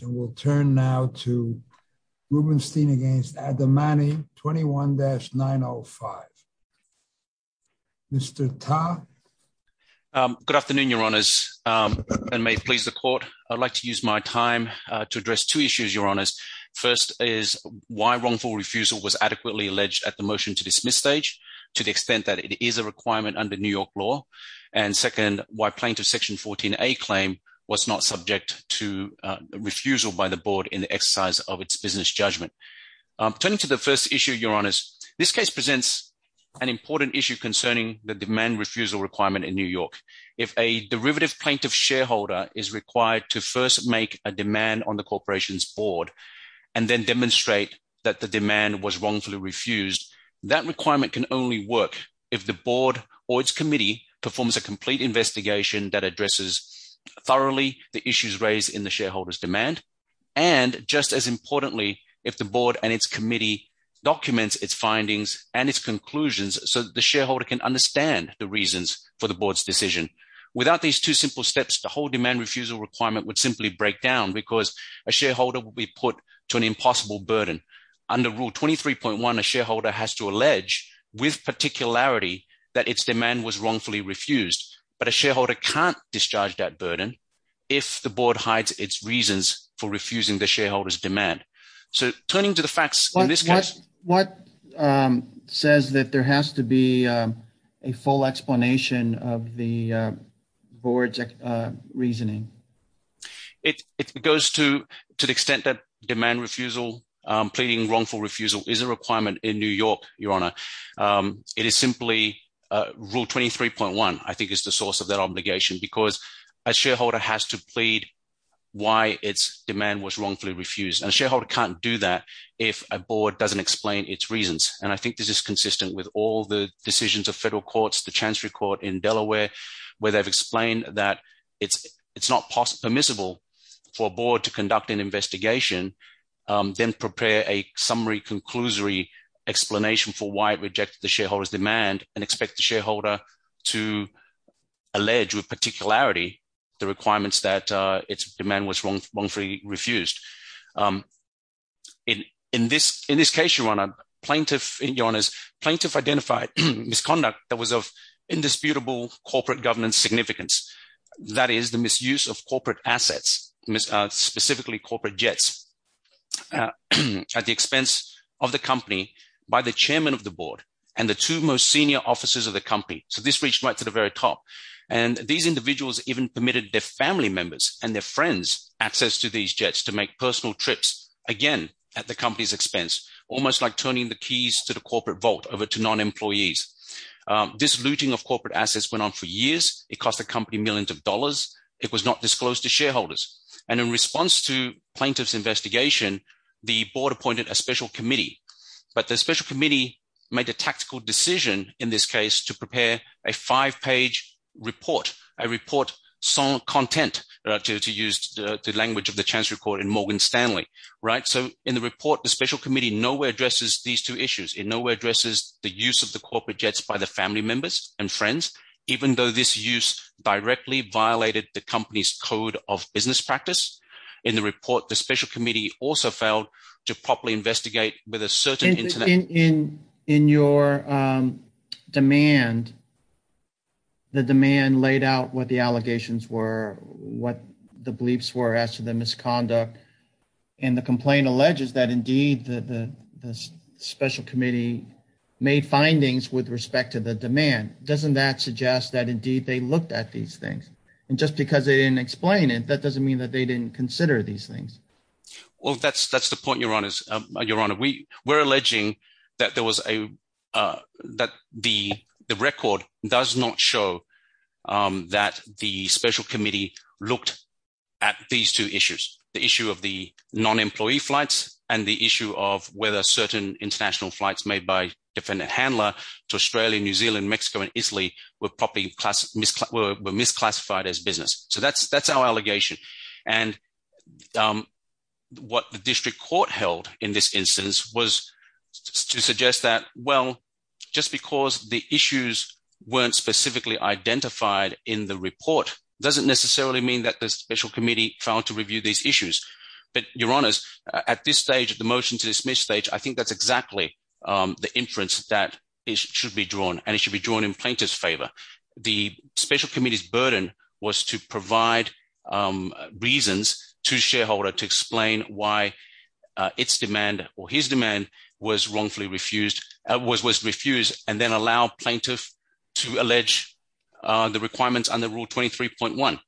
21-905. Mr. Ta. Good afternoon, your honors, and may it please the court. I'd like to use my time to address two issues, your honors. First is why wrongful refusal was adequately alleged at the motion to dismiss stage to the extent that it is a requirement under New York law. And second, why plaintiff section 14a claim was not subject to refusal by the board in the exercise of its business judgment. Turning to the first issue, your honors, this case presents an important issue concerning the demand refusal requirement in New York. If a derivative plaintiff shareholder is required to first make a demand on the corporation's board and then demonstrate that the demand was wrongfully refused, that requirement can only work if the board or its that addresses thoroughly the issues raised in the shareholder's demand. And just as importantly, if the board and its committee documents its findings and its conclusions, so the shareholder can understand the reasons for the board's decision. Without these two simple steps, the whole demand refusal requirement would simply break down because a shareholder will be put to an impossible burden. Under Rule 23.1, a shareholder has to allege with particularity that its demand was wrongfully refused, but a shareholder can't discharge that burden if the board hides its reasons for refusing the shareholders demand. So turning to the facts, what says that there has to be a full explanation of the board's reasoning? It goes to the extent that demand refusal, pleading wrongful refusal, is a requirement in New York, Your Honour. It is simply Rule 23.1, I think, is the source of that obligation because a shareholder has to plead why its demand was wrongfully refused. And a shareholder can't do that if a board doesn't explain its reasons. And I think this is consistent with all the decisions of federal courts, the Chancery Court in Delaware, where they've explained that it's not permissible for a board to conduct an summary conclusory explanation for why it rejected the shareholder's demand and expect the shareholder to allege with particularity the requirements that its demand was wrongfully refused. In this case, Your Honour, plaintiff identified misconduct that was of indisputable corporate governance significance. That is the misuse of corporate assets, specifically corporate jets, at the expense of the company by the chairman of the board and the two most senior officers of the company. So this reached right to the very top. And these individuals even permitted their family members and their friends access to these jets to make personal trips, again, at the company's expense, almost like turning the keys to the corporate vault over to non-employees. This looting of corporate assets went on for years. It cost the company millions of dollars. It was not disclosed to shareholders. And in response to plaintiff's investigation, the board appointed a special committee. But the special committee made a tactical decision in this case to prepare a five-page report, a report sans content, to use the language of the Chancery Court in Morgan Stanley, right? So in the report, the special committee nowhere addresses these two issues. It nowhere addresses the use of the corporate jets by the family members and friends, even though this use directly violated the company's code of business practice. In the report, the special committee also failed to properly investigate with a certain... In your demand, the demand laid out what the allegations were, what the bleeps were as to misconduct. And the complaint alleges that, indeed, the special committee made findings with respect to the demand. Doesn't that suggest that, indeed, they looked at these things? And just because they didn't explain it, that doesn't mean that they didn't consider these things. Well, that's the point, Your Honor. We're alleging that the record does not show that the special committee looked at these two issues, the issue of the non-employee flights and the issue of whether certain international flights made by a different handler to Australia, New Zealand, Mexico, and Italy were properly misclassified as business. So that's our allegation. And what the district court held in this instance was to suggest that, well, just because the issues weren't specifically identified in the report doesn't necessarily mean that the special committee failed to review these issues. But, Your Honors, at this stage, at the motion to dismiss stage, I think that's exactly the inference that should be drawn. And it should be drawn in plaintiff's favor. The special committee's burden was to provide reasons to shareholder to explain why its demand or his demand was wrongfully refused, was refused, and then allow plaintiff to allege the requirements under Rule 23.1.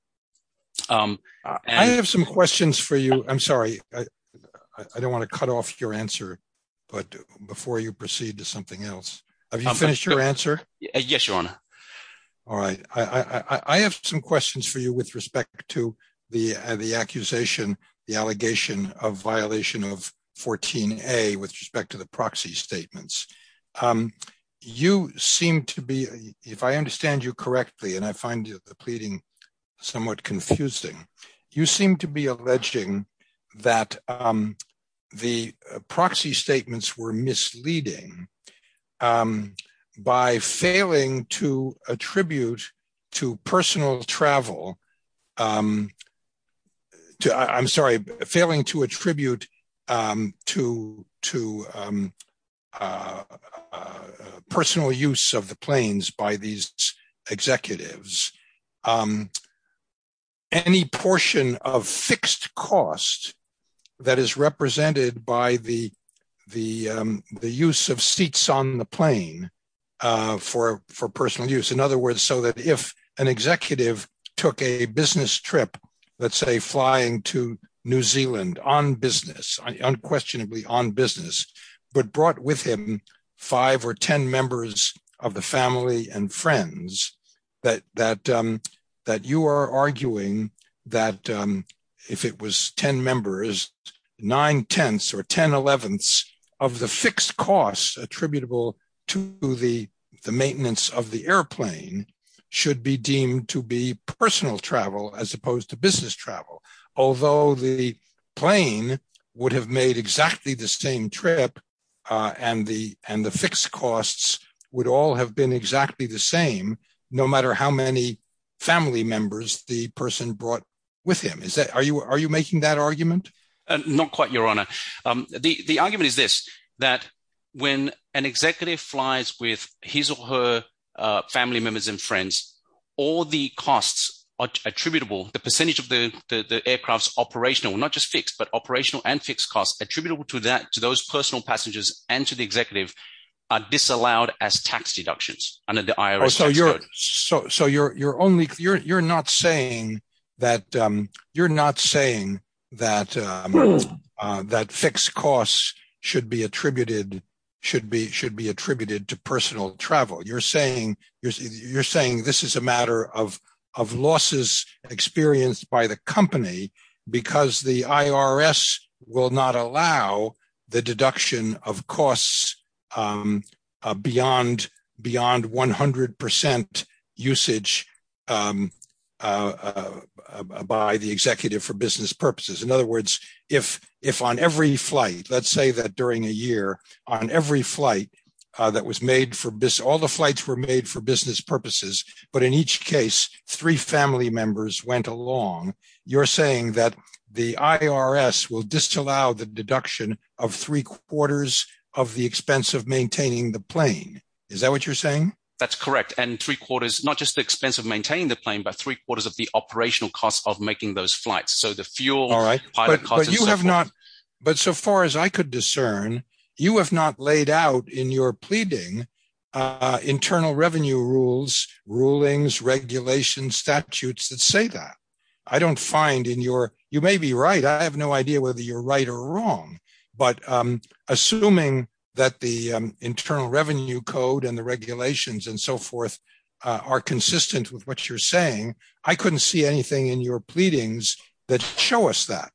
I have some questions for you. I'm sorry. I don't want to cut off your answer. But before you proceed to something else, have you finished your answer? Yes, Your Honor. All right. I have some questions for you with respect to the accusation, the allegation of violation of 14A with respect to the proxy statements. You seem to be, if I understand you correctly, and I find the pleading somewhat confusing, you seem to be alleging that the proxy attribute to personal travel, I'm sorry, failing to attribute to personal use of the planes by these executives, any portion of fixed cost that is represented by the use of seats on the plane for personal use. In other words, so that if an executive took a business trip, let's say, flying to New Zealand on business, unquestionably on business, but brought with him five or 10 members of the family and friends, that you are arguing that if it was 10 members, nine-tenths or 10-elevenths of the fixed costs attributable to the maintenance of the airplane should be deemed to be personal travel as opposed to business travel. Although the plane would have made exactly the same trip, and the fixed costs would all have been exactly the same, no matter how many family members the person brought with him. Are you making that argument? Not quite, Your Honor. The argument is this, that when an executive flies with his or her family members and friends, all the costs attributable, the percentage of the aircraft's operational, not just fixed, but operational and fixed costs attributable to that, to those personal passengers and to the executive, are disallowed as tax deductions under the IRS tax code. So you're not saying that fixed costs should be attributed to personal travel. You're saying this is a matter of losses experienced by the company because the IRS will not allow the deduction of costs beyond 100 percent usage by the executive for business purposes. In other words, if on every flight, let's say that during a year, on every flight that was made for business, all the flights were made for business purposes, but in each case, three family members went along, you're saying that the IRS will disallow the deduction of three quarters of the expense of maintaining the plane. Is that what you're saying? That's correct. And three quarters, not just the expense of maintaining the plane, but three quarters of the operational costs of making those flights. So the fuel, all right, but you have not. But so far as I could discern, you have not laid out in your pleading internal revenue rules, rulings, regulations, statutes that say that I don't find in your, you may be right. I have no idea whether you're right or wrong, but I'm assuming that the internal revenue code and the regulations and so forth are consistent with what you're saying. I couldn't see anything in your pleadings that show us that.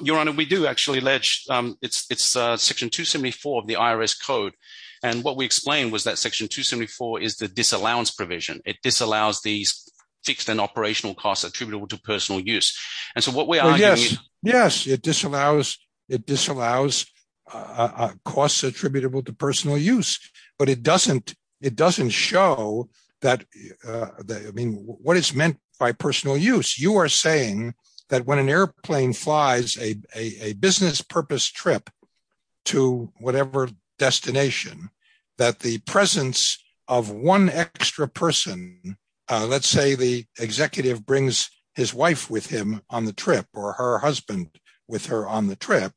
Your Honor, we do actually allege it's section 274 of the IRS code. And what we explained was that section 274 is the disallowance provision. It disallows these fixed and operational costs attributable to personal use. And so what we are- Yes, yes. It disallows costs attributable to personal use, but it doesn't show that, I mean, what is meant by personal use. You are saying that when an airplane flies a business purpose trip to whatever destination, that the presence of one extra person, let's say the executive brings his wife with him on the trip or her husband with her on the trip,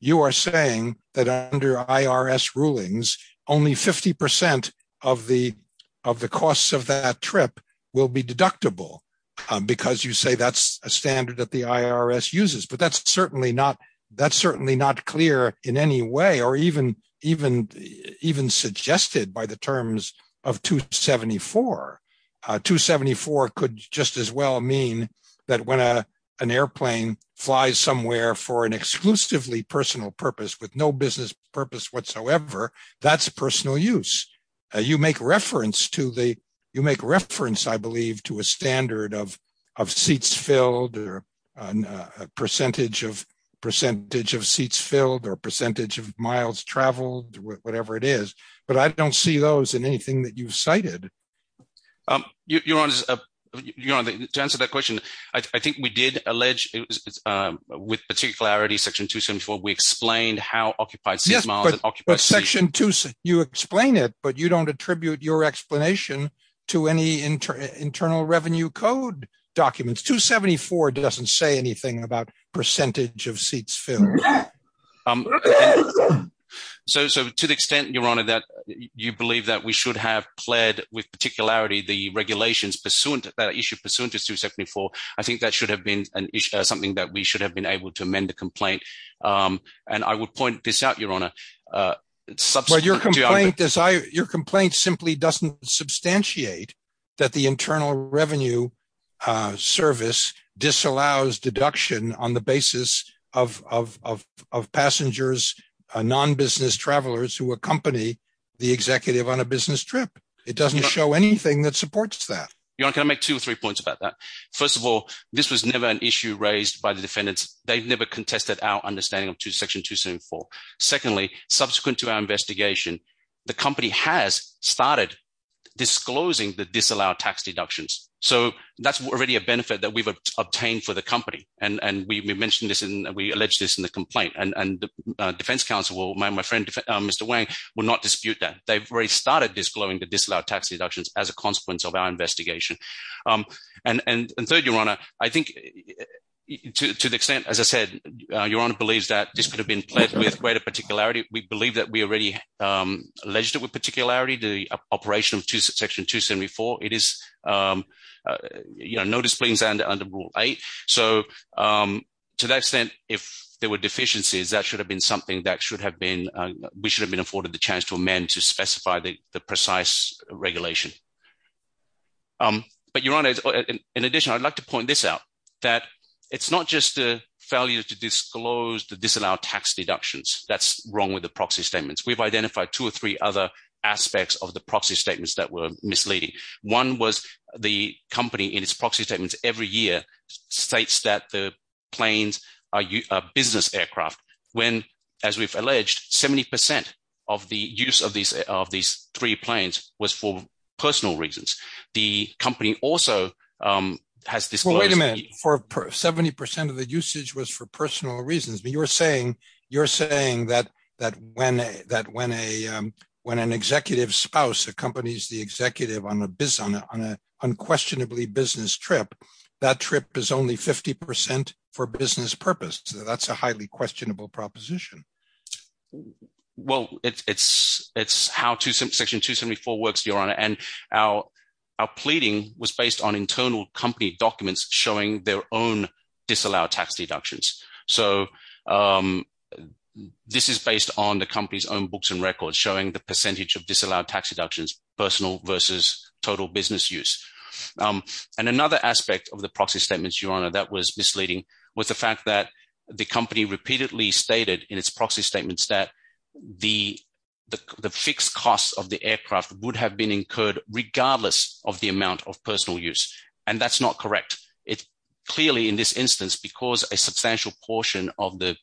you are saying that under IRS rulings, only 50% of the costs of that trip will be deductible because you say that's a standard that the IRS uses. But that's certainly not clear in any way, or even suggested by the terms of 274. 274 could just as well mean that when an airplane flies somewhere for an exclusively personal purpose with no business purpose whatsoever, that's personal use. You make reference to the, you make reference, I believe, to a standard of seats filled or a percentage of seats filled or percentage of miles traveled, whatever it is. But I don't see those in anything that you've cited. Your Honor, to answer that question, I think we did allege with particularity section 274, we explained how occupied seats, miles and occupied seats. Section 274, you explain it, but you don't attribute your explanation to any internal revenue code documents. 274 doesn't say anything about percentage of seats filled. So to the extent, Your Honor, that you believe that we should have played with particularity the regulations pursuant to that issue, pursuant to 274, I think that should have been an issue, something that we should have been able to amend the complaint. And I would point this out, Your Honor. Your complaint simply doesn't substantiate that the Internal Revenue Service disallows deduction on the basis of passengers, non-business travelers who accompany the executive on a business trip. It doesn't show anything that supports that. Your Honor, can I make two or three points about that? First of all, this was never an issue raised by the defendants. They've never contested our understanding of section 274. Secondly, subsequent to our investigation, the company has started disclosing the disallowed tax deductions. So that's already a benefit that we've obtained for the company. And we mentioned this and we alleged this in the complaint. And the defense counsel, my friend, Mr. Wang, will not dispute that. They've already started disclosing the disallowed tax deductions as a consequence of our investigation. And third, Your Honor, I think to the extent, as I said, Your Honor believes that this could have been pledged with greater particularity. We believe that we already alleged it with particularity, the operation of section 274. It is, you know, no displeasings under Rule 8. So to that extent, if there were deficiencies, that should have been something that should have been, we should have been afforded the chance to amend to specify the precise regulation. But Your Honor, in addition, I'd like to point this out, that it's not just the failure to disclose the disallowed tax deductions. That's wrong with the proxy statements. We've identified two or three other aspects of the proxy statements that were misleading. One was the company in its proxy statements every year states that the planes are business aircraft, when, as we've alleged, 70% of the use of these of these three planes was for personal reasons. The company also has disclosed... Wait a minute, 70% of the usage was for personal reasons, but you're saying you're saying that when an executive spouse accompanies the executive on an unquestionably business trip, that trip is only 50% for business purpose. That's a highly questionable proposition. Well, it's how Section 274 works, Your Honor, and our pleading was based on internal company documents showing their own disallowed tax deductions. So this is based on the company's own books and records showing the percentage of disallowed tax deductions, personal versus total business use. And another aspect of the proxy statements, that was misleading, was the fact that the company repeatedly stated in its proxy statements that the fixed costs of the aircraft would have been incurred regardless of the amount of personal use. And that's not correct. Clearly, in this instance, because a substantial portion of the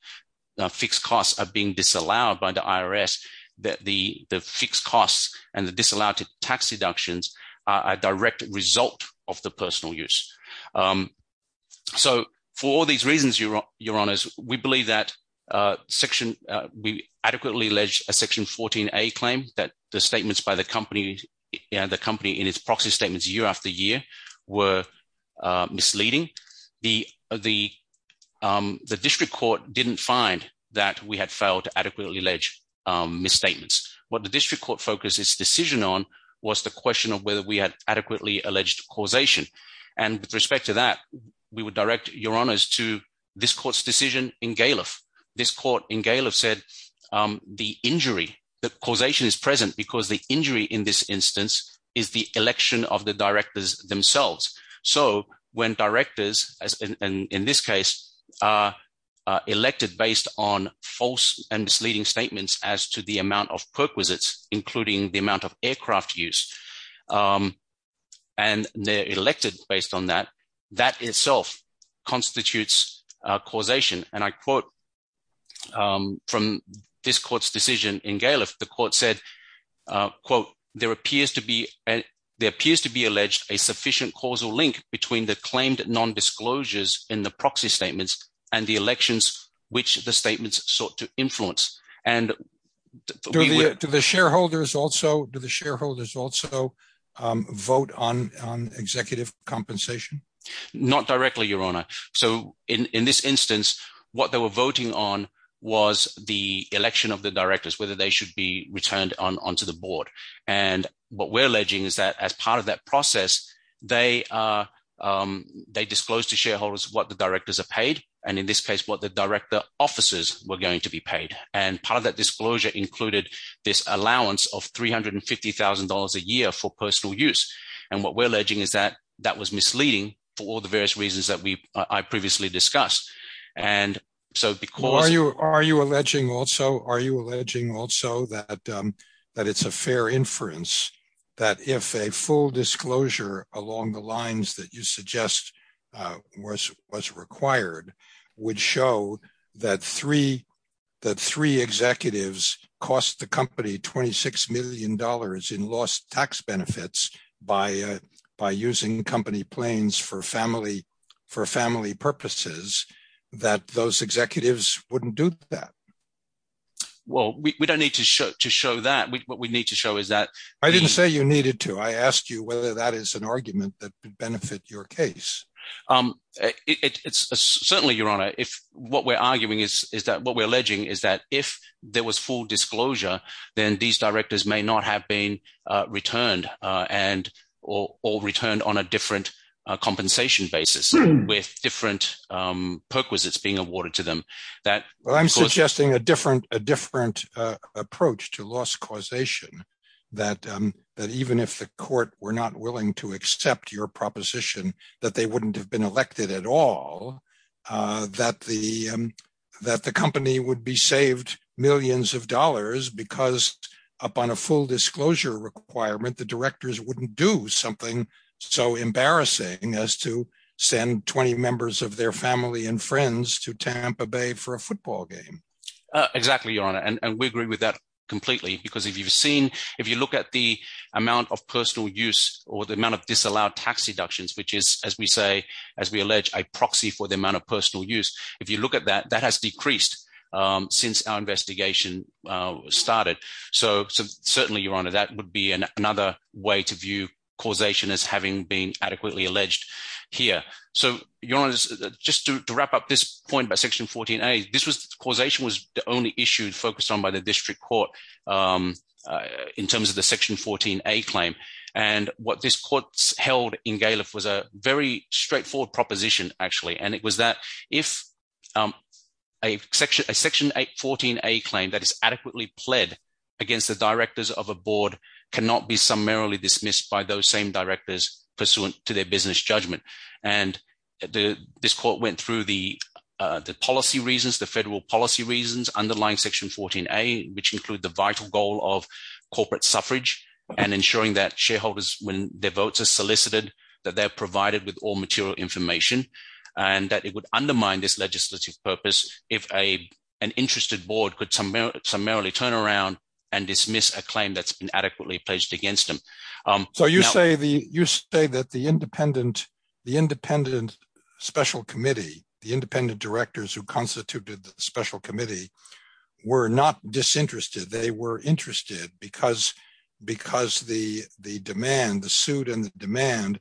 fixed costs are being disallowed by the IRS, the fixed costs and the disallowed tax deductions are a direct result of the personal use. So for all these reasons, Your Honors, we believe that we adequately alleged a Section 14a claim that the statements by the company and the company in its proxy statements year after year were misleading. The District Court didn't find that we had failed to adequately allege misstatements. What the we had adequately alleged causation. And with respect to that, we would direct Your Honors to this court's decision in Galef. This court in Galef said, the injury, the causation is present because the injury in this instance, is the election of the directors themselves. So when directors as in this case, elected based on false and misleading statements as to the amount of use. And they're elected based on that, that itself constitutes causation. And I quote, from this court's decision in Galef, the court said, quote, there appears to be, there appears to be alleged a sufficient causal link between the claimed non disclosures in the proxy statements, and the elections, which the statements sought to influence. And to the shareholders also to shareholders also vote on executive compensation? Not directly, Your Honor. So in this instance, what they were voting on was the election of the directors, whether they should be returned on to the board. And what we're alleging is that as part of that process, they, they disclosed to shareholders what the directors are paid. And in this case, what the director offices were going to be paid. And part of that disclosure included this allowance of $350,000 a year for personal use. And what we're alleging is that that was misleading for all the various reasons that we I previously discussed. And so because you are you alleging also, are you alleging also that, that it's a fair inference, that if a full disclosure along the lines that you suggest, was was required, would show that three, that three executives cost the company $26 million in lost tax benefits by by using company planes for family, for family purposes, that those executives wouldn't do that? Well, we don't need to show to show that we need to show is that I didn't say you needed to, I asked you whether that is an argument that could benefit your case. It's certainly your honor, if what we're arguing is, is that what we're alleging is that if there was full disclosure, then these directors may not have been returned, and or returned on a different compensation basis, with different perquisites being awarded to them, that I'm suggesting a different a different approach to loss causation, that that even if the court were not willing to accept your proposition, that they wouldn't have been elected at all, that the that the company would be saved millions of dollars, because upon a full disclosure requirement, the directors wouldn't do something so embarrassing as to send 20 members of their family and friends to Tampa Bay for a football game. Exactly, your honor. And we agree with that or the amount of disallowed tax deductions, which is, as we say, as we allege a proxy for the amount of personal use, if you look at that, that has decreased since our investigation started. So certainly, your honor, that would be another way to view causation as having been adequately alleged here. So yours, just to wrap up this point by section 14. A, this was causation was the only issue focused on by the district court in terms of the section 14a claim. And what this court held in Galef was a very straightforward proposition, actually. And it was that if a section a section 814, a claim that is adequately pled against the directors of a board cannot be summarily dismissed by those same directors pursuant to their business judgment. And the this court went through the policy reasons, the federal policy reasons underlying section 14a, which include the vital goal of corporate suffrage, and ensuring that shareholders when their votes are solicited, that they're provided with all material information, and that it would undermine this legislative purpose, if a an interested board could summarily turn around and dismiss a claim that's been adequately pledged against them. So you say the you say that the independent, the independent special committee, the independent directors who constituted the special committee, were not disinterested, they were interested because, because the the demand the suit and demand,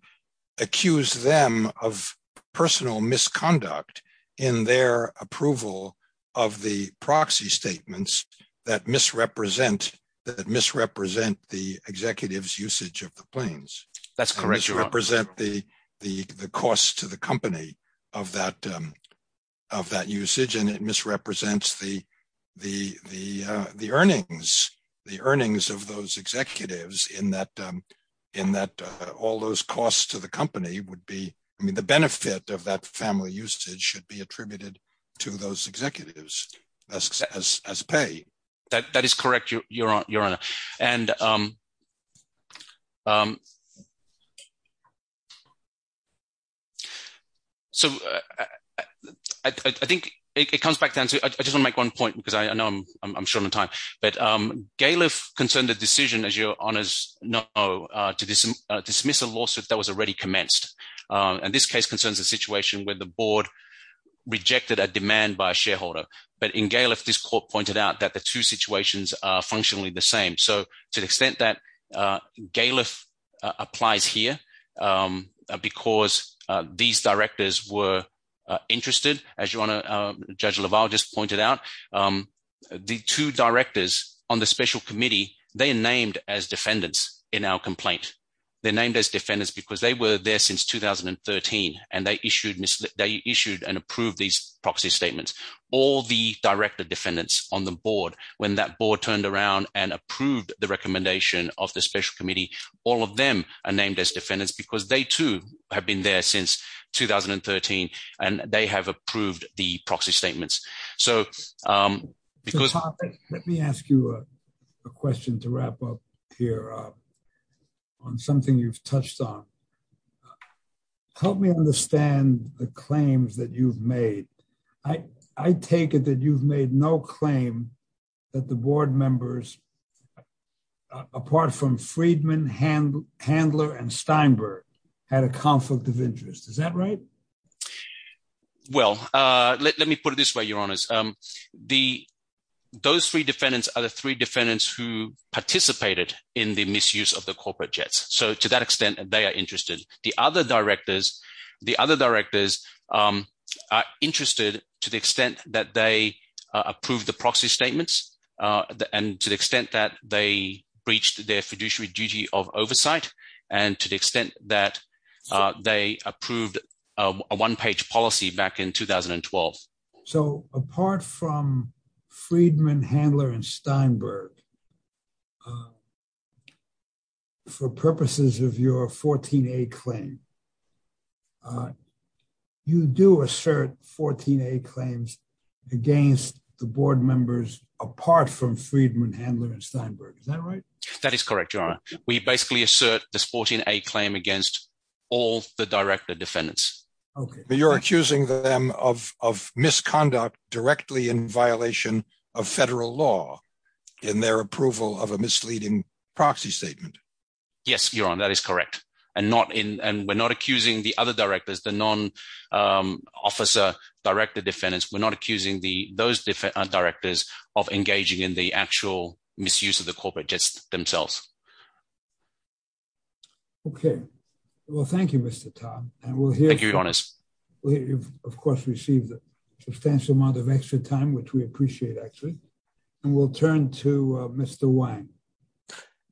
accused them of personal misconduct in their approval of the proxy statements that misrepresent that misrepresent the executives usage of the planes. That's correct. You represent the, the the cost to the company of that, of that usage, and it misrepresents the, the, the, the earnings, the earnings of those executives in that, in that all those costs to the company would be, I mean, the benefit of that family usage should be attributed to those executives as as pay. That is correct. You're on your honor. And so I think it comes back down to, I just wanna make one point because I know I'm short on time, but Galef concerned the decision as your honors know, to dismiss a lawsuit that was already commenced. And this case concerns a situation where the board rejected a demand by a shareholder, in Galef, this court pointed out that the two situations are functionally the same. So to the extent that Galef applies here because these directors were interested as you wanna judge Laval just pointed out the two directors on the special committee, they named as defendants in our complaint. They named as defendants because they were there since 2013 and they issued, they issued and approved these proxy statements. All the director defendants on the board, when that board turned around and approved the recommendation of the special committee, all of them are named as defendants because they too have been there since 2013 and they have approved the proxy statements. So, because- Let me ask you a question to wrap up here on something you've touched on. Help me understand the claims that you've made. I take it that you've made no claim that the board members apart from Friedman, Handler and Steinberg had a conflict of interest. Is that right? Well, let me put it this way, your honors. Those three defendants are the three defendants who participated in the misuse of the corporate jets. So to that extent, they are interested. The other directors are interested to the extent that they approved the proxy statements and to the extent that they breached their fiduciary duty of oversight and to the extent that they approved a one-page policy back in 2012. So apart from Friedman, Handler and Steinberg, for purposes of your 14A claim, you do assert 14A claims against the board members apart from Friedman, Handler and Steinberg. Is that right? That is correct, your honor. We basically assert this 14A claim against all the director defendants. Okay. But you're accusing them of misconduct directly in violation of federal law in their approval of a misleading proxy statement. Yes, your honor, that is correct. And we're not accusing the other directors, the non-officer director defendants, we're not accusing those directors of engaging in the actual misuse of the corporate jets themselves. Okay. Well, thank you, Mr. Tom. And we'll hear- Thank you, your honors. We've, of course, received a substantial amount of extra time, which we appreciate, actually. And we'll turn to Mr. Wang.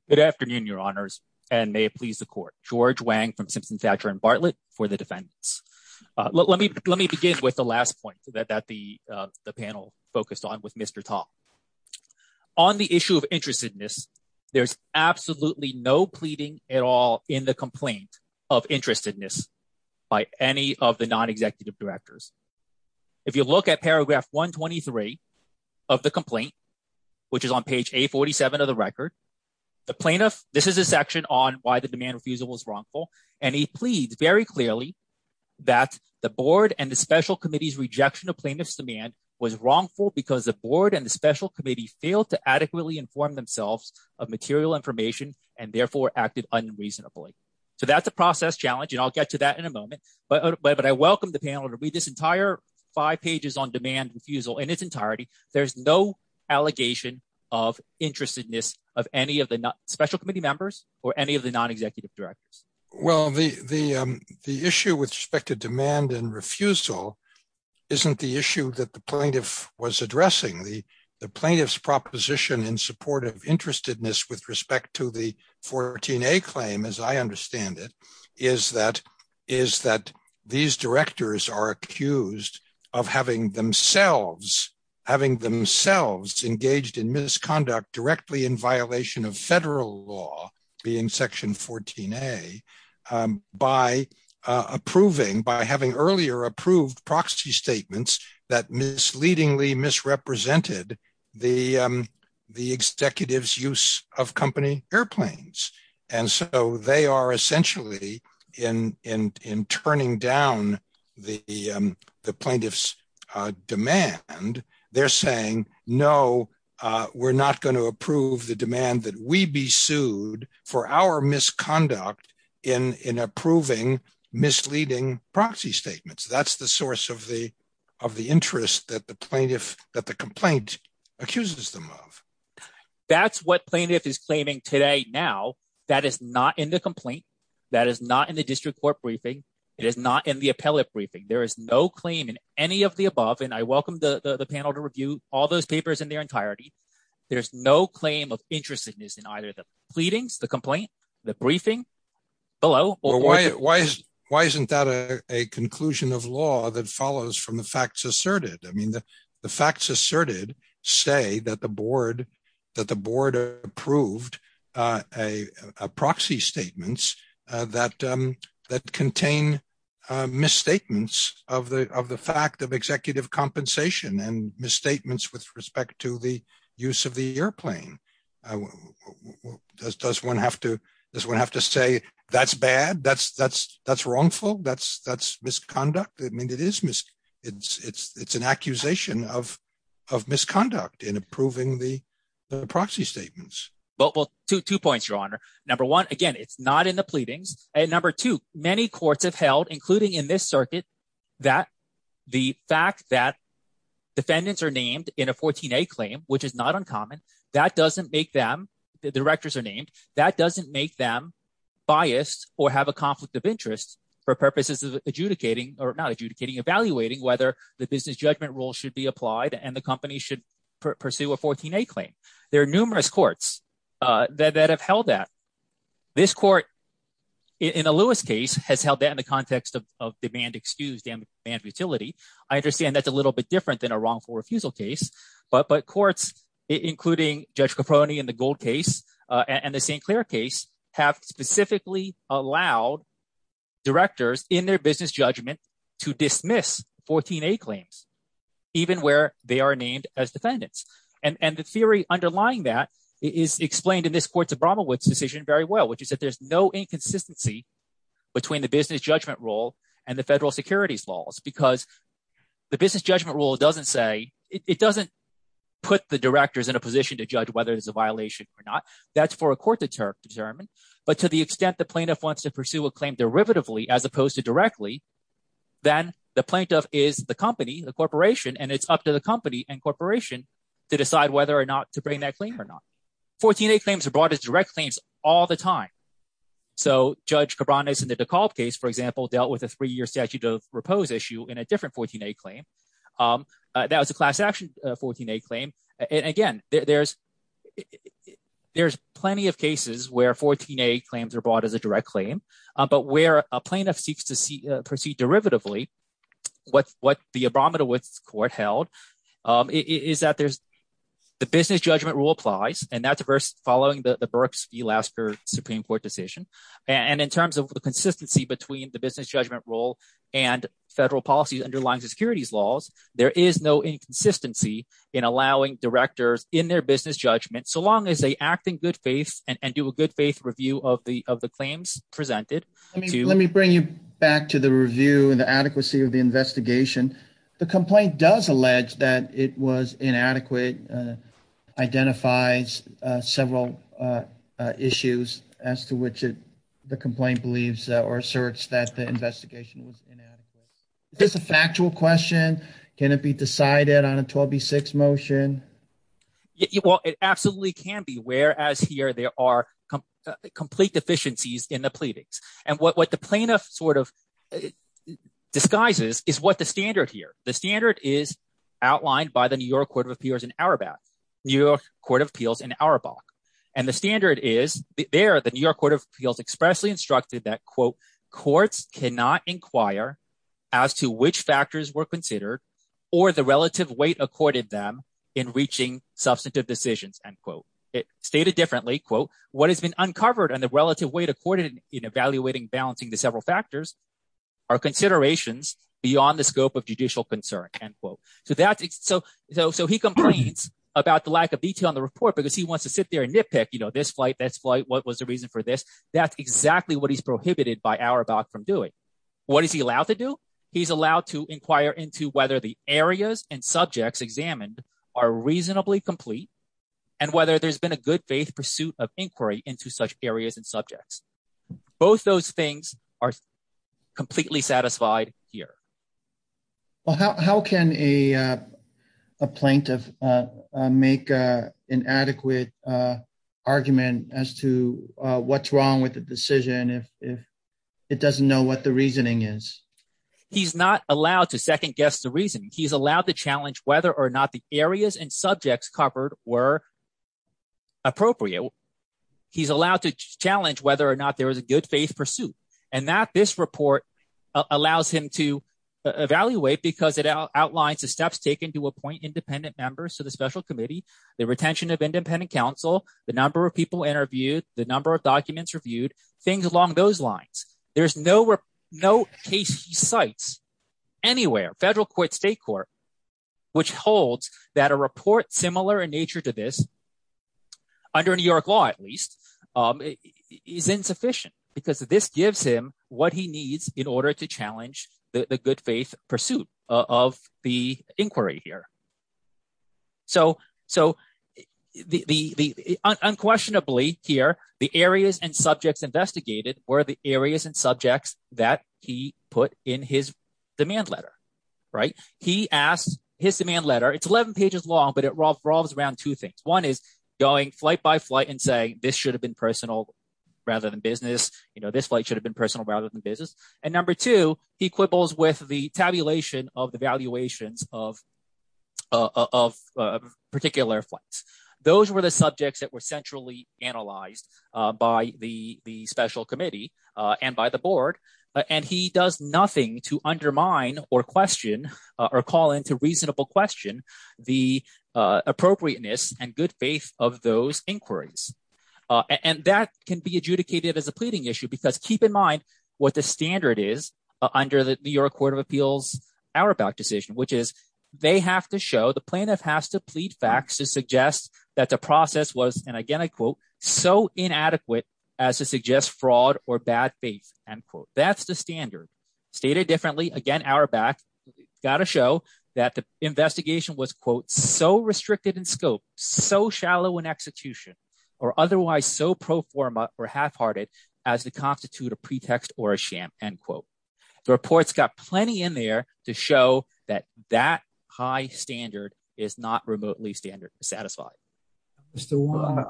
Good afternoon, your honors, and may it please the court. George Wang from Simpson Thatcher and Bartlett for the defendants. Let me begin with the last point that the panel focused on with Mr. Tom. On the issue of interestedness, there's absolutely no complaint of interestedness by any of the non-executive directors. If you look at paragraph 123 of the complaint, which is on page 847 of the record, the plaintiff, this is a section on why the demand refusal was wrongful. And he pleads very clearly that the board and the special committee's rejection of plaintiff's demand was wrongful because the board and the special committee failed to adequately inform themselves of material information and therefore acted unreasonably. So that's a process challenge, and I'll get to that in a moment. But I welcome the panel to read this entire five pages on demand refusal in its entirety. There's no allegation of interestedness of any of the special committee members or any of the non-executive directors. Well, the issue with respect to demand and refusal isn't the issue that the plaintiff was addressing. The plaintiff's proposition in support of interestedness with respect to the 14a claim, as I understand it, is that these directors are accused of having themselves engaged in misconduct directly in violation of federal law, being section 14a, by approving, by having earlier approved proxy statements that misleadingly misrepresented the executive's use of company airplanes. And so they are essentially, in turning down the plaintiff's demand, they're saying, no, we're not going to approve the demand that we be sued for our misconduct in approving misleading proxy statements. That's the source of the interest that the complaint accuses them of. That's what plaintiff is claiming today. Now, that is not in the complaint. That is not in the district court briefing. It is not in the appellate briefing. There is no claim in any of the above. And I welcome the panel to review all those papers in their entirety. There's no claim of interestedness in either the pleadings, the facts asserted. The facts asserted say that the board approved proxy statements that contain misstatements of the fact of executive compensation and misstatements with respect to the use of the airplane. Does one have to say that's bad? That's wrongful? That's misconduct? I mean, it's an accusation of misconduct in approving the proxy statements. Well, two points, Your Honor. Number one, again, it's not in the pleadings. And number two, many courts have held, including in this circuit, that the fact that defendants are named in a 14a claim, which is not uncommon, that doesn't make them, the directors are named, that doesn't make them biased or have a conflict of interest for purposes of evaluating whether the business judgment rule should be applied and the company should pursue a 14a claim. There are numerous courts that have held that. This court in the Lewis case has held that in the context of demand excuse, demand futility. I understand that's a little bit different than a wrongful refusal case, but courts, including Judge Caproni in the Gold case and the St. Clair case, have specifically allowed directors in their business judgment to dismiss 14a claims, even where they are named as defendants. And the theory underlying that is explained in this Court of Bromelwood's decision very well, which is that there's no inconsistency between the business judgment rule and the put the directors in a position to judge whether there's a violation or not. That's for a court to determine. But to the extent the plaintiff wants to pursue a claim derivatively as opposed to directly, then the plaintiff is the company, the corporation, and it's up to the company and corporation to decide whether or not to bring that claim or not. 14a claims are brought as direct claims all the time. So Judge Caproni in the DeKalb case, for example, dealt with a three-year statute of repose issue in a different 14a claim. That was a class action 14a claim. And again, there's plenty of cases where 14a claims are brought as a direct claim. But where a plaintiff seeks to proceed derivatively, what the Abramowitz Court held is that the business judgment rule applies, and that's following the Burks v. Lasker Supreme Court decision. And in terms of the consistency between the business judgment rule and federal policies underlying the securities laws, there is no inconsistency in allowing directors in their business judgment, so long as they act in good faith and do a good faith review of the claims presented. Let me bring you back to the review and the adequacy of the investigation. The complaint does allege that it was inadequate, identifies several issues as to which the complaint believes or asserts that the investigation was inadequate. Is this a factual question? Can it be decided on a 12b-6 motion? Well, it absolutely can be, whereas here there are complete deficiencies in the pleadings. And what the plaintiff sort of disguises is what the standard here. The standard is outlined by the New York Court of Appeals in Auerbach. New York Court of Appeals in Auerbach. And the standard is there the New York Court of Appeals expressly instructed that, quote, courts cannot inquire as to which factors were considered or the relative weight accorded them in reaching substantive decisions, end quote. It stated differently, quote, what has been uncovered and the relative weight accorded in evaluating balancing the several factors are considerations beyond the scope of judicial concern, end quote. So he complains about the lack of detail in the nitpick, you know, this flight, this flight, what was the reason for this? That's exactly what he's prohibited by Auerbach from doing. What is he allowed to do? He's allowed to inquire into whether the areas and subjects examined are reasonably complete and whether there's been a good faith pursuit of inquiry into such areas and subjects. Both those things are arguments as to what's wrong with the decision if it doesn't know what the reasoning is. He's not allowed to second guess the reason. He's allowed to challenge whether or not the areas and subjects covered were appropriate. He's allowed to challenge whether or not there is a good faith pursuit. And that this report allows him to evaluate because it outlines the steps taken to appoint independent members to the special committee, the retention of the number of people interviewed, the number of documents reviewed, things along those lines. There's no case he cites anywhere, federal court, state court, which holds that a report similar in nature to this, under New York law at least, is insufficient because this gives him what he needs in order to challenge the good faith pursuit of the inquiry here. So unquestionably here, the areas and subjects investigated were the areas and subjects that he put in his demand letter. He asked his demand letter, it's 11 pages long, but it revolves around two things. One is going flight by flight and saying this should have been personal rather than business. This flight should have been personal rather than business. And number two, he quibbles with the tabulation of the valuations of particular flights. Those were the subjects that were centrally analyzed by the special committee and by the board. And he does nothing to undermine or question or call into reasonable question the appropriateness and good faith of those inquiries. And that can be adjudicated as a pleading issue because keep in mind what the standard is under the New York Court of Appeals Auerbach decision, which is they have to show – the plaintiff has to plead facts to suggest that the process was, and again I quote, so inadequate as to suggest fraud or bad faith, end quote. That's the standard. Stated differently, again Auerbach, got to show that the investigation was, quote, so restricted in scope, so shallow in execution, or otherwise so pro forma or half-hearted as to constitute a pretext or a sham, end quote. The report's got plenty in there to show that that high standard is not remotely standard satisfied. Mr. Warren.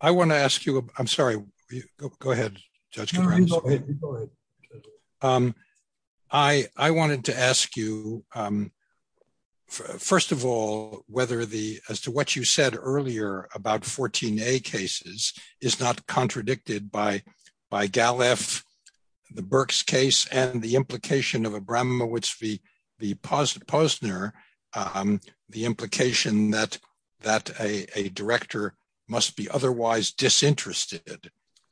I want to ask you, I'm sorry, go ahead, Judge Cabranes. I wanted to ask you, first of all, whether the – as to what you said earlier about 14a cases is not contradicted by Gallef, the Burks case, and the implication of Abramowitz v. Posner, the implication that a director must be otherwise disinterested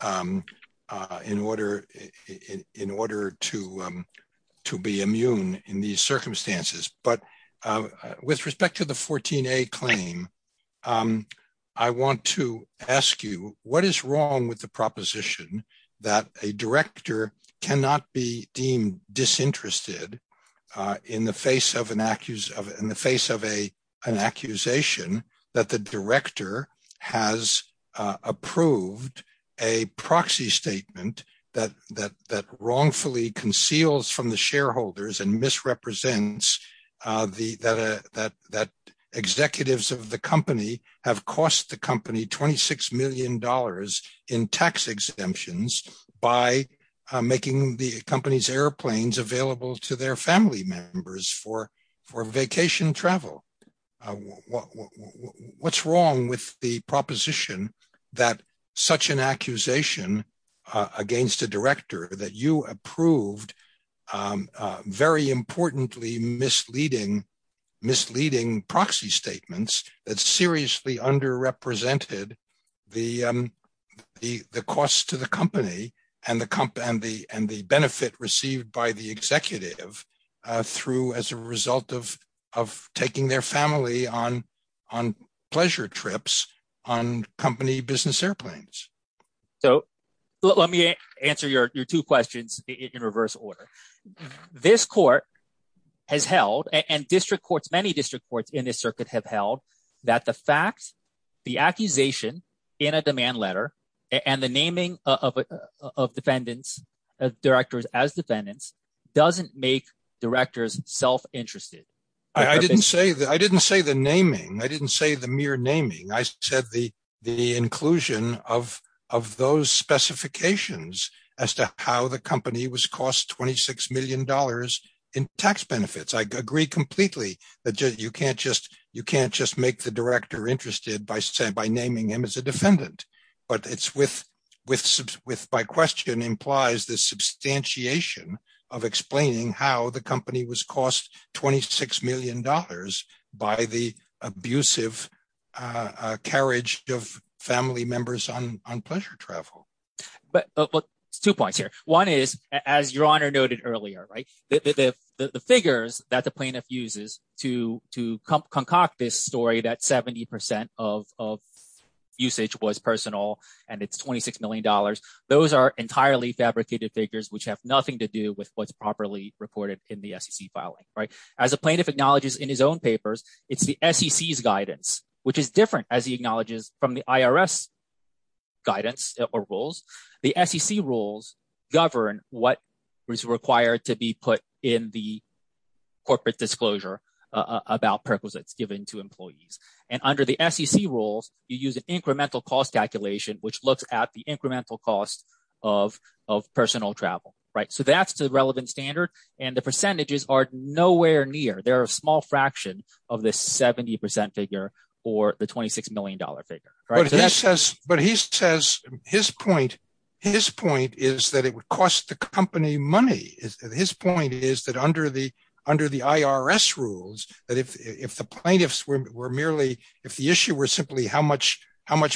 in order to be immune in these circumstances. But with respect to the 14a claim, I want to ask you, what is wrong with the proposition that a director cannot be deemed disinterested in the face of an accusation that the director has approved a proxy statement that wrongfully conceals from the shareholders and misrepresents that executives of the company have cost the company $26 million in tax exemptions by making the company's airplanes available to their family members for vacation travel? What's wrong with the proposition that such an accusation against a director that you approved very importantly misleading proxy statements that seriously underrepresented the cost to the company and the benefit received by the executive through as a result of taking their family on pleasure trips on company business airplanes? So let me answer your two questions in reverse order. This court has held, and district courts in this circuit have held, that the fact, the accusation in a demand letter and the naming of directors as defendants doesn't make directors self-interested. I didn't say the naming. I didn't say the mere naming. I said the inclusion of those specifications as to how the company was cost $26 million in tax benefits. I agree completely that you can't just make the director interested by naming him as a defendant. But it's with my question implies the substantiation of explaining how the company was cost $26 million by the abusive carriage of family members on pleasure travel. But there's two points here. One is, as your honor noted earlier, the figures that the plaintiff uses to concoct this story that 70% of usage was personal and it's $26 million, those are entirely fabricated figures which have nothing to do with what's properly reported in the SEC filing. As a plaintiff acknowledges in his own papers, it's the SEC's guidance which is different as he acknowledges from the IRS guidance or rules. The SEC rules govern what is required to be put in the corporate disclosure about purposes given to employees. And under the SEC rules, you use an incremental cost calculation which looks at the incremental cost of personal travel. So that's the relevant standard and the percentages are nowhere near. They're a small fraction of this 70% figure or the $26 million figure. But he says his point is that it would cost the company money. His point is that under the IRS rules, that if the plaintiffs were merely, if the issue were simply how much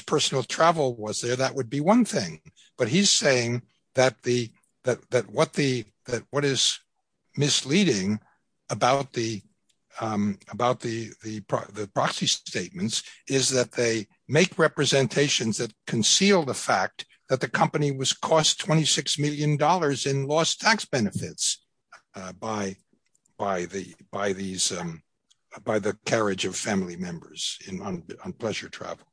personal travel was there, that would be one thing. But he's saying that what is misleading about the proxy statements is that they make representations that conceal the fact that the company was cost $26 million in lost tax benefits by the carriage of family members on pleasure travel.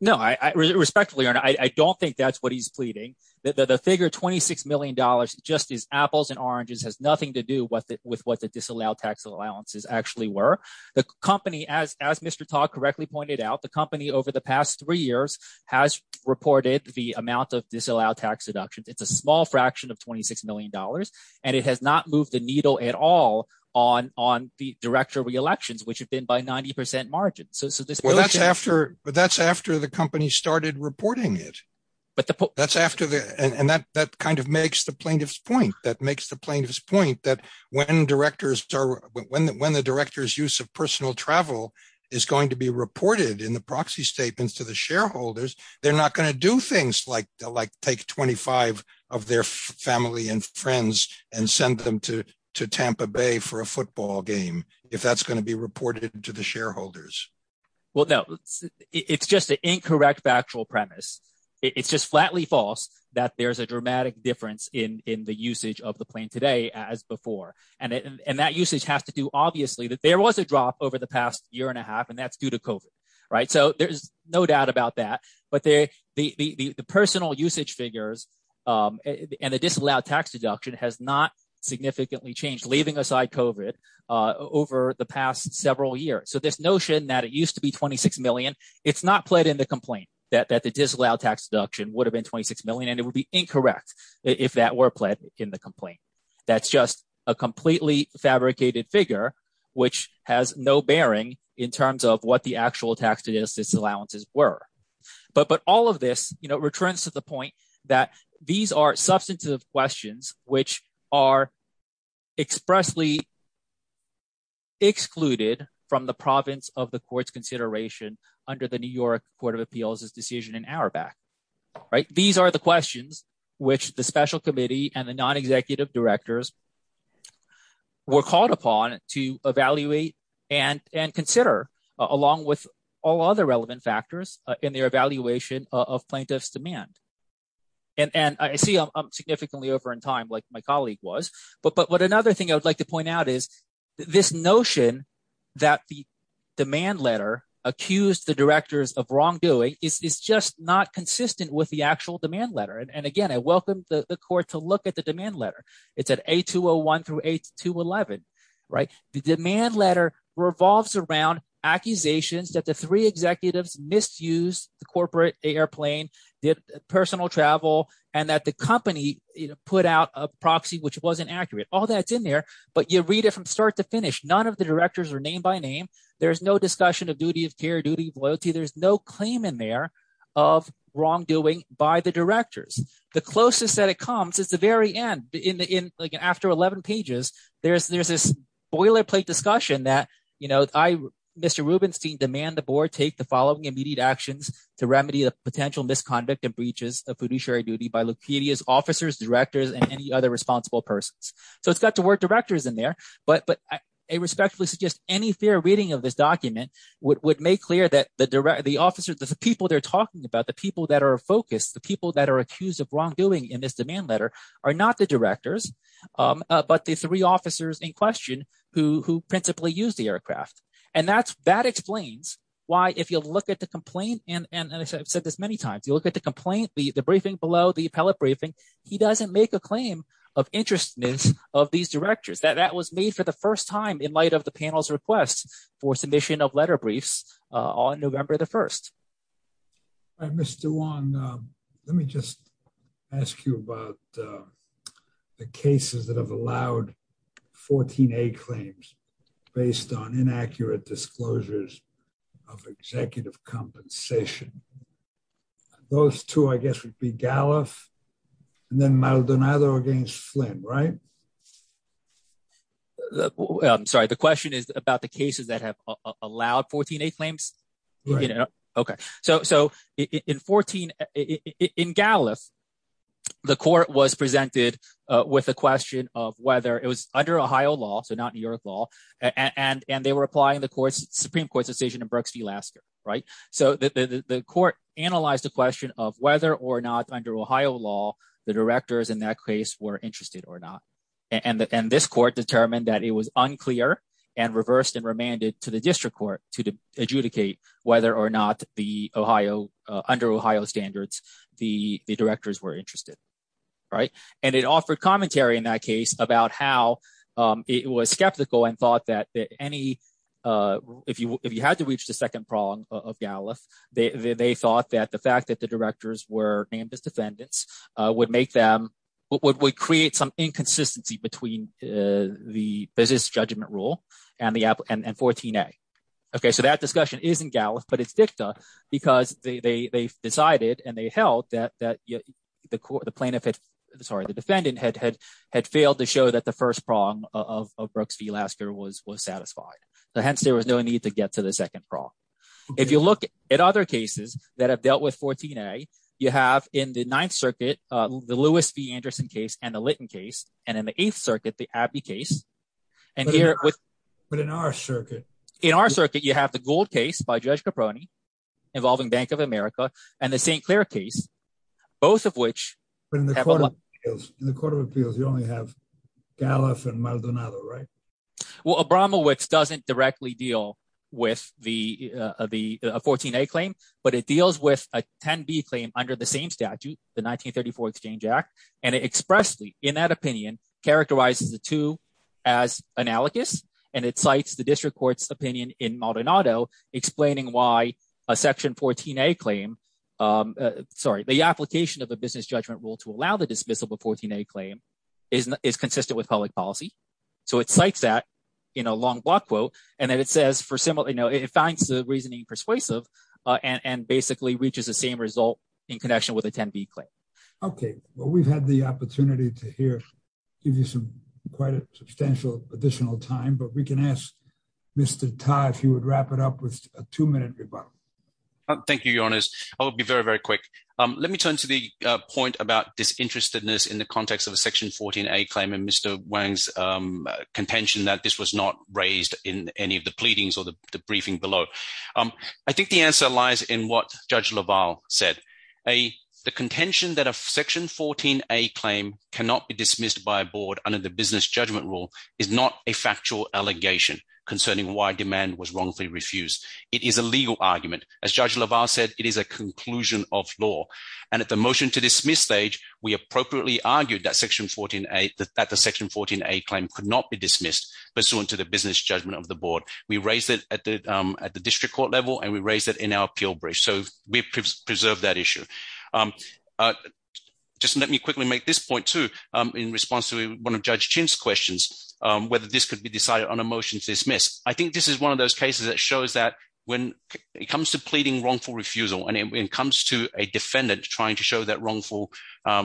No, I respectfully earn I don't think that's what he's pleading that the figure $26 million just is apples and oranges has nothing to do with it with what the disallowed tax allowances actually were. The company as as Mr. Todd correctly pointed out the company over the past three years has reported the amount of disallowed tax deductions. It's a small fraction of $26 million and it has not moved the needle at all on on the director reelections which have been by 90% so that's after but that's after the company started reporting it. But that's after the and that that kind of makes the plaintiff's point that makes the plaintiff's point that when directors are when when the director's use of personal travel is going to be reported in the proxy statements to the shareholders, they're not going to do things like like take 25 of their family and friends and send them to to Tampa Bay for a football game if that's going to be reported to the shareholders. Well, no, it's just an incorrect factual premise. It's just flatly false that there's a dramatic difference in in the usage of the plane today as before and and that usage has to do obviously that there was a drop over the past year and a half and that's due to COVID, right? So there's no doubt about that. But there the the personal usage figures and the disallowed tax deduction has not significantly changed leaving aside COVID over the past several years. So this notion that it used to be 26 million, it's not pled in the complaint that that the disallowed tax deduction would have been 26 million and it would be incorrect if that were pled in the complaint. That's just a completely fabricated figure which has no bearing in terms of what the actual tax deductions allowances were. But but all of this you know returns to the point that these are substantive questions which are expressly excluded from the province of the court's consideration under the New York Court of Appeals' decision an hour back, right? These are the questions which the special committee and the non-executive directors were called upon to evaluate and and consider along with all other relevant factors in their evaluation of plaintiff's demand. And and I see I'm significantly over in time like my colleague was but but what another thing I would like to point out is this notion that the demand letter accused the directors of wrongdoing is just not consistent with the actual demand letter. And again I welcome the court to look at the demand letter. It's at A201 through A211, right? The demand letter revolves around accusations that the three executives misused the corporate airplane, did personal travel, and that the company put out a proxy which wasn't accurate. All that's in there but you read it from start to finish. None of the directors are name by name. There's no discussion of duty of care, duty of loyalty. There's no claim in there of wrongdoing by the directors. The closest that it comes is the very end in the in like after 11 pages there's there's this boilerplate discussion that you know I Mr. Rubinstein demand the board take the following immediate actions to remedy the potential misconduct and breaches of fiduciary duty by lucidia's officers directors and any other responsible persons. So it's got the word directors in there but but I respectfully suggest any fair reading of this document would make clear that the direct the officers the people they're talking about the people that are focused the people that are accused of wrongdoing in this demand letter are not the directors but the three if you look at the complaint and and I've said this many times you look at the complaint the the briefing below the appellate briefing he doesn't make a claim of interestness of these directors that that was made for the first time in light of the panel's request for submission of letter briefs on November the 1st. All right Mr. Wong let me just ask you about the cases that have allowed 14a claims based on inaccurate disclosures of executive compensation those two I guess would be gallop and then Maldonado against Flynn right I'm sorry the question is about the cases that have allowed 14a claims you know okay so so in 14 in Gallif the court was presented with a question of whether it was under Ohio law so not New York law and and they were applying the court's supreme court decision in Brooks v Lasker right so the court analyzed the question of whether or not under Ohio law the directors in that case were interested or not and and this court determined that it was unclear and reversed and remanded to district court to adjudicate whether or not the Ohio under Ohio standards the the directors were interested right and it offered commentary in that case about how it was skeptical and thought that any if you if you had to reach the second prong of Gallif they they thought that the fact that the directors were named as defendants would make them what would create some inconsistency between the business judgment rule and the app and 14a okay so that discussion is in Gallif but it's dicta because they they they decided and they held that that the court the plaintiff had sorry the defendant had had had failed to show that the first prong of Brooks v Lasker was was satisfied so hence there was no need to get to the second prong if you look at other cases that have dealt with 14a you have in the ninth circuit uh the Lewis v Anderson case and the Litton case and in the eighth circuit the Abbey case and here with but in our circuit in our circuit you have the Gould case by Judge Caproni involving Bank of America and the St. Clair case both of which in the court of appeals you only have Gallif and Maldonado right well Abramowitz doesn't directly deal with the uh the 14a claim but it deals with a 10b claim under the same statute the 1934 exchange act and it expressly in that opinion characterizes the two as analogous and it cites the district court's opinion in Maldonado explaining why a section 14a claim um sorry the application of the business judgment rule to allow the dismissal of a 14a claim is is consistent with public policy so it cites that in a long block quote and then it says for similar you know it finds the reasoning persuasive uh and and basically reaches the same result in well we've had the opportunity to hear give you some quite a substantial additional time but we can ask Mr. Tai if you would wrap it up with a two-minute rebuttal thank you your honors i'll be very very quick um let me turn to the uh point about disinterestedness in the context of a section 14a claim and Mr. Wang's um contention that this was not raised in any of the pleadings or the briefing below um i think the answer lies in what Judge LaValle said a the contention that a section 14a claim cannot be dismissed by a board under the business judgment rule is not a factual allegation concerning why demand was wrongfully refused it is a legal argument as Judge LaValle said it is a conclusion of law and at the motion to dismiss stage we appropriately argued that section 14a that the section 14a claim could not be dismissed pursuant to the business judgment of the board we raised it at the um at the district court level and we raised it in our so we preserved that issue um uh just let me quickly make this point too um in response to one of Judge Chin's questions um whether this could be decided on a motion to dismiss i think this is one of those cases that shows that when it comes to pleading wrongful refusal and it comes to a defendant trying to show that wrongful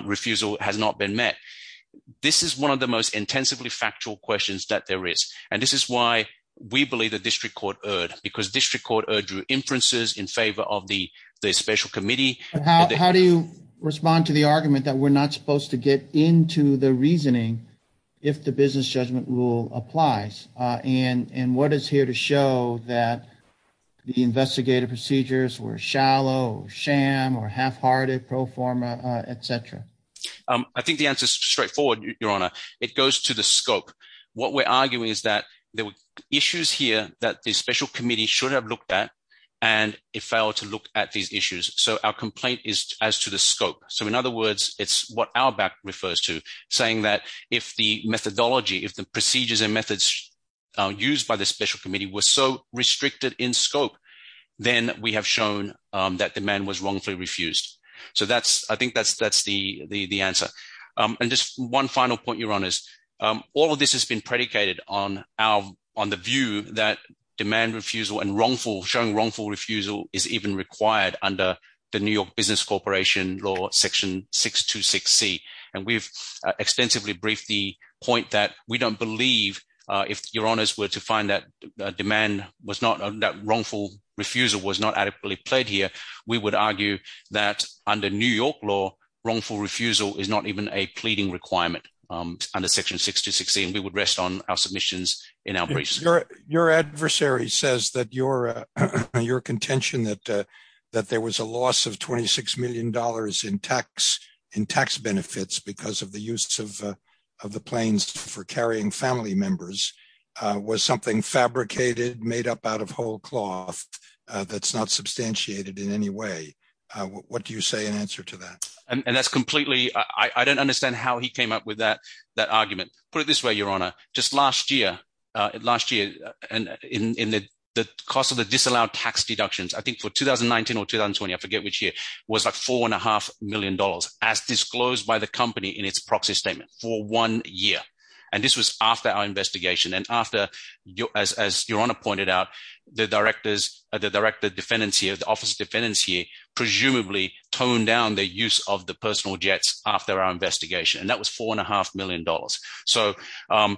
refusal has not been met this is one of the most intensively factual questions that there is and this is why we believe the district court erred because district court erred through inferences in favor of the the special committee how do you respond to the argument that we're not supposed to get into the reasoning if the business judgment rule applies uh and and what is here to show that the investigative procedures were shallow sham or half-hearted pro forma uh etc um i think the answer is straightforward your honor it goes to the scope what we're arguing is that there were issues here that the special committee should have looked at and it failed to look at these issues so our complaint is as to the scope so in other words it's what our back refers to saying that if the methodology if the procedures and methods used by the special committee were so restricted in scope then we have shown um that demand was wrongfully refused so that's i think that's that's the the the answer um and just one final point your honors um all of this has been predicated on our on the view that demand refusal and wrongful showing wrongful refusal is even required under the new york business corporation law section 626 c and we've extensively briefed the point that we don't believe uh if your honors were to find that demand was not that wrongful refusal was not adequately played here we would under section 6216 we would rest on our submissions in our briefs your your adversary says that your uh your contention that uh that there was a loss of 26 million dollars in tax in tax benefits because of the use of of the planes for carrying family members uh was something fabricated made up out of whole cloth uh that's not substantiated in any way uh what do you say and and that's completely i i don't understand how he came up with that that argument put it this way your honor just last year uh last year and in in the the cost of the disallowed tax deductions i think for 2019 or 2020 i forget which year was like four and a half million dollars as disclosed by the company in its proxy statement for one year and this was after our investigation and after your as as your honor pointed out the directors the director defendants here the office defendants here presumably toned down the use of the personal jets after our investigation and that was four and a half million dollars so um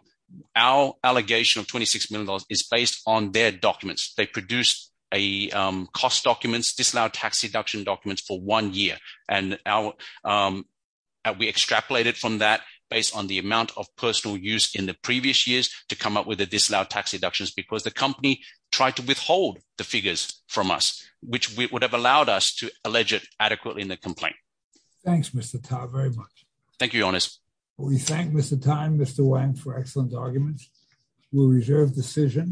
our allegation of 26 million dollars is based on their documents they produced a um cost documents disallowed tax deduction documents for one year and our um we extrapolated from that based on the amount of personal use in the previous years to come up with the disallowed tax deductions because the company tried to withhold the figures from us which would have allowed us to allege it adequately in the complaint thanks mr ta very much thank you honest we thank mr time mr wang for excellent arguments we'll reserve decision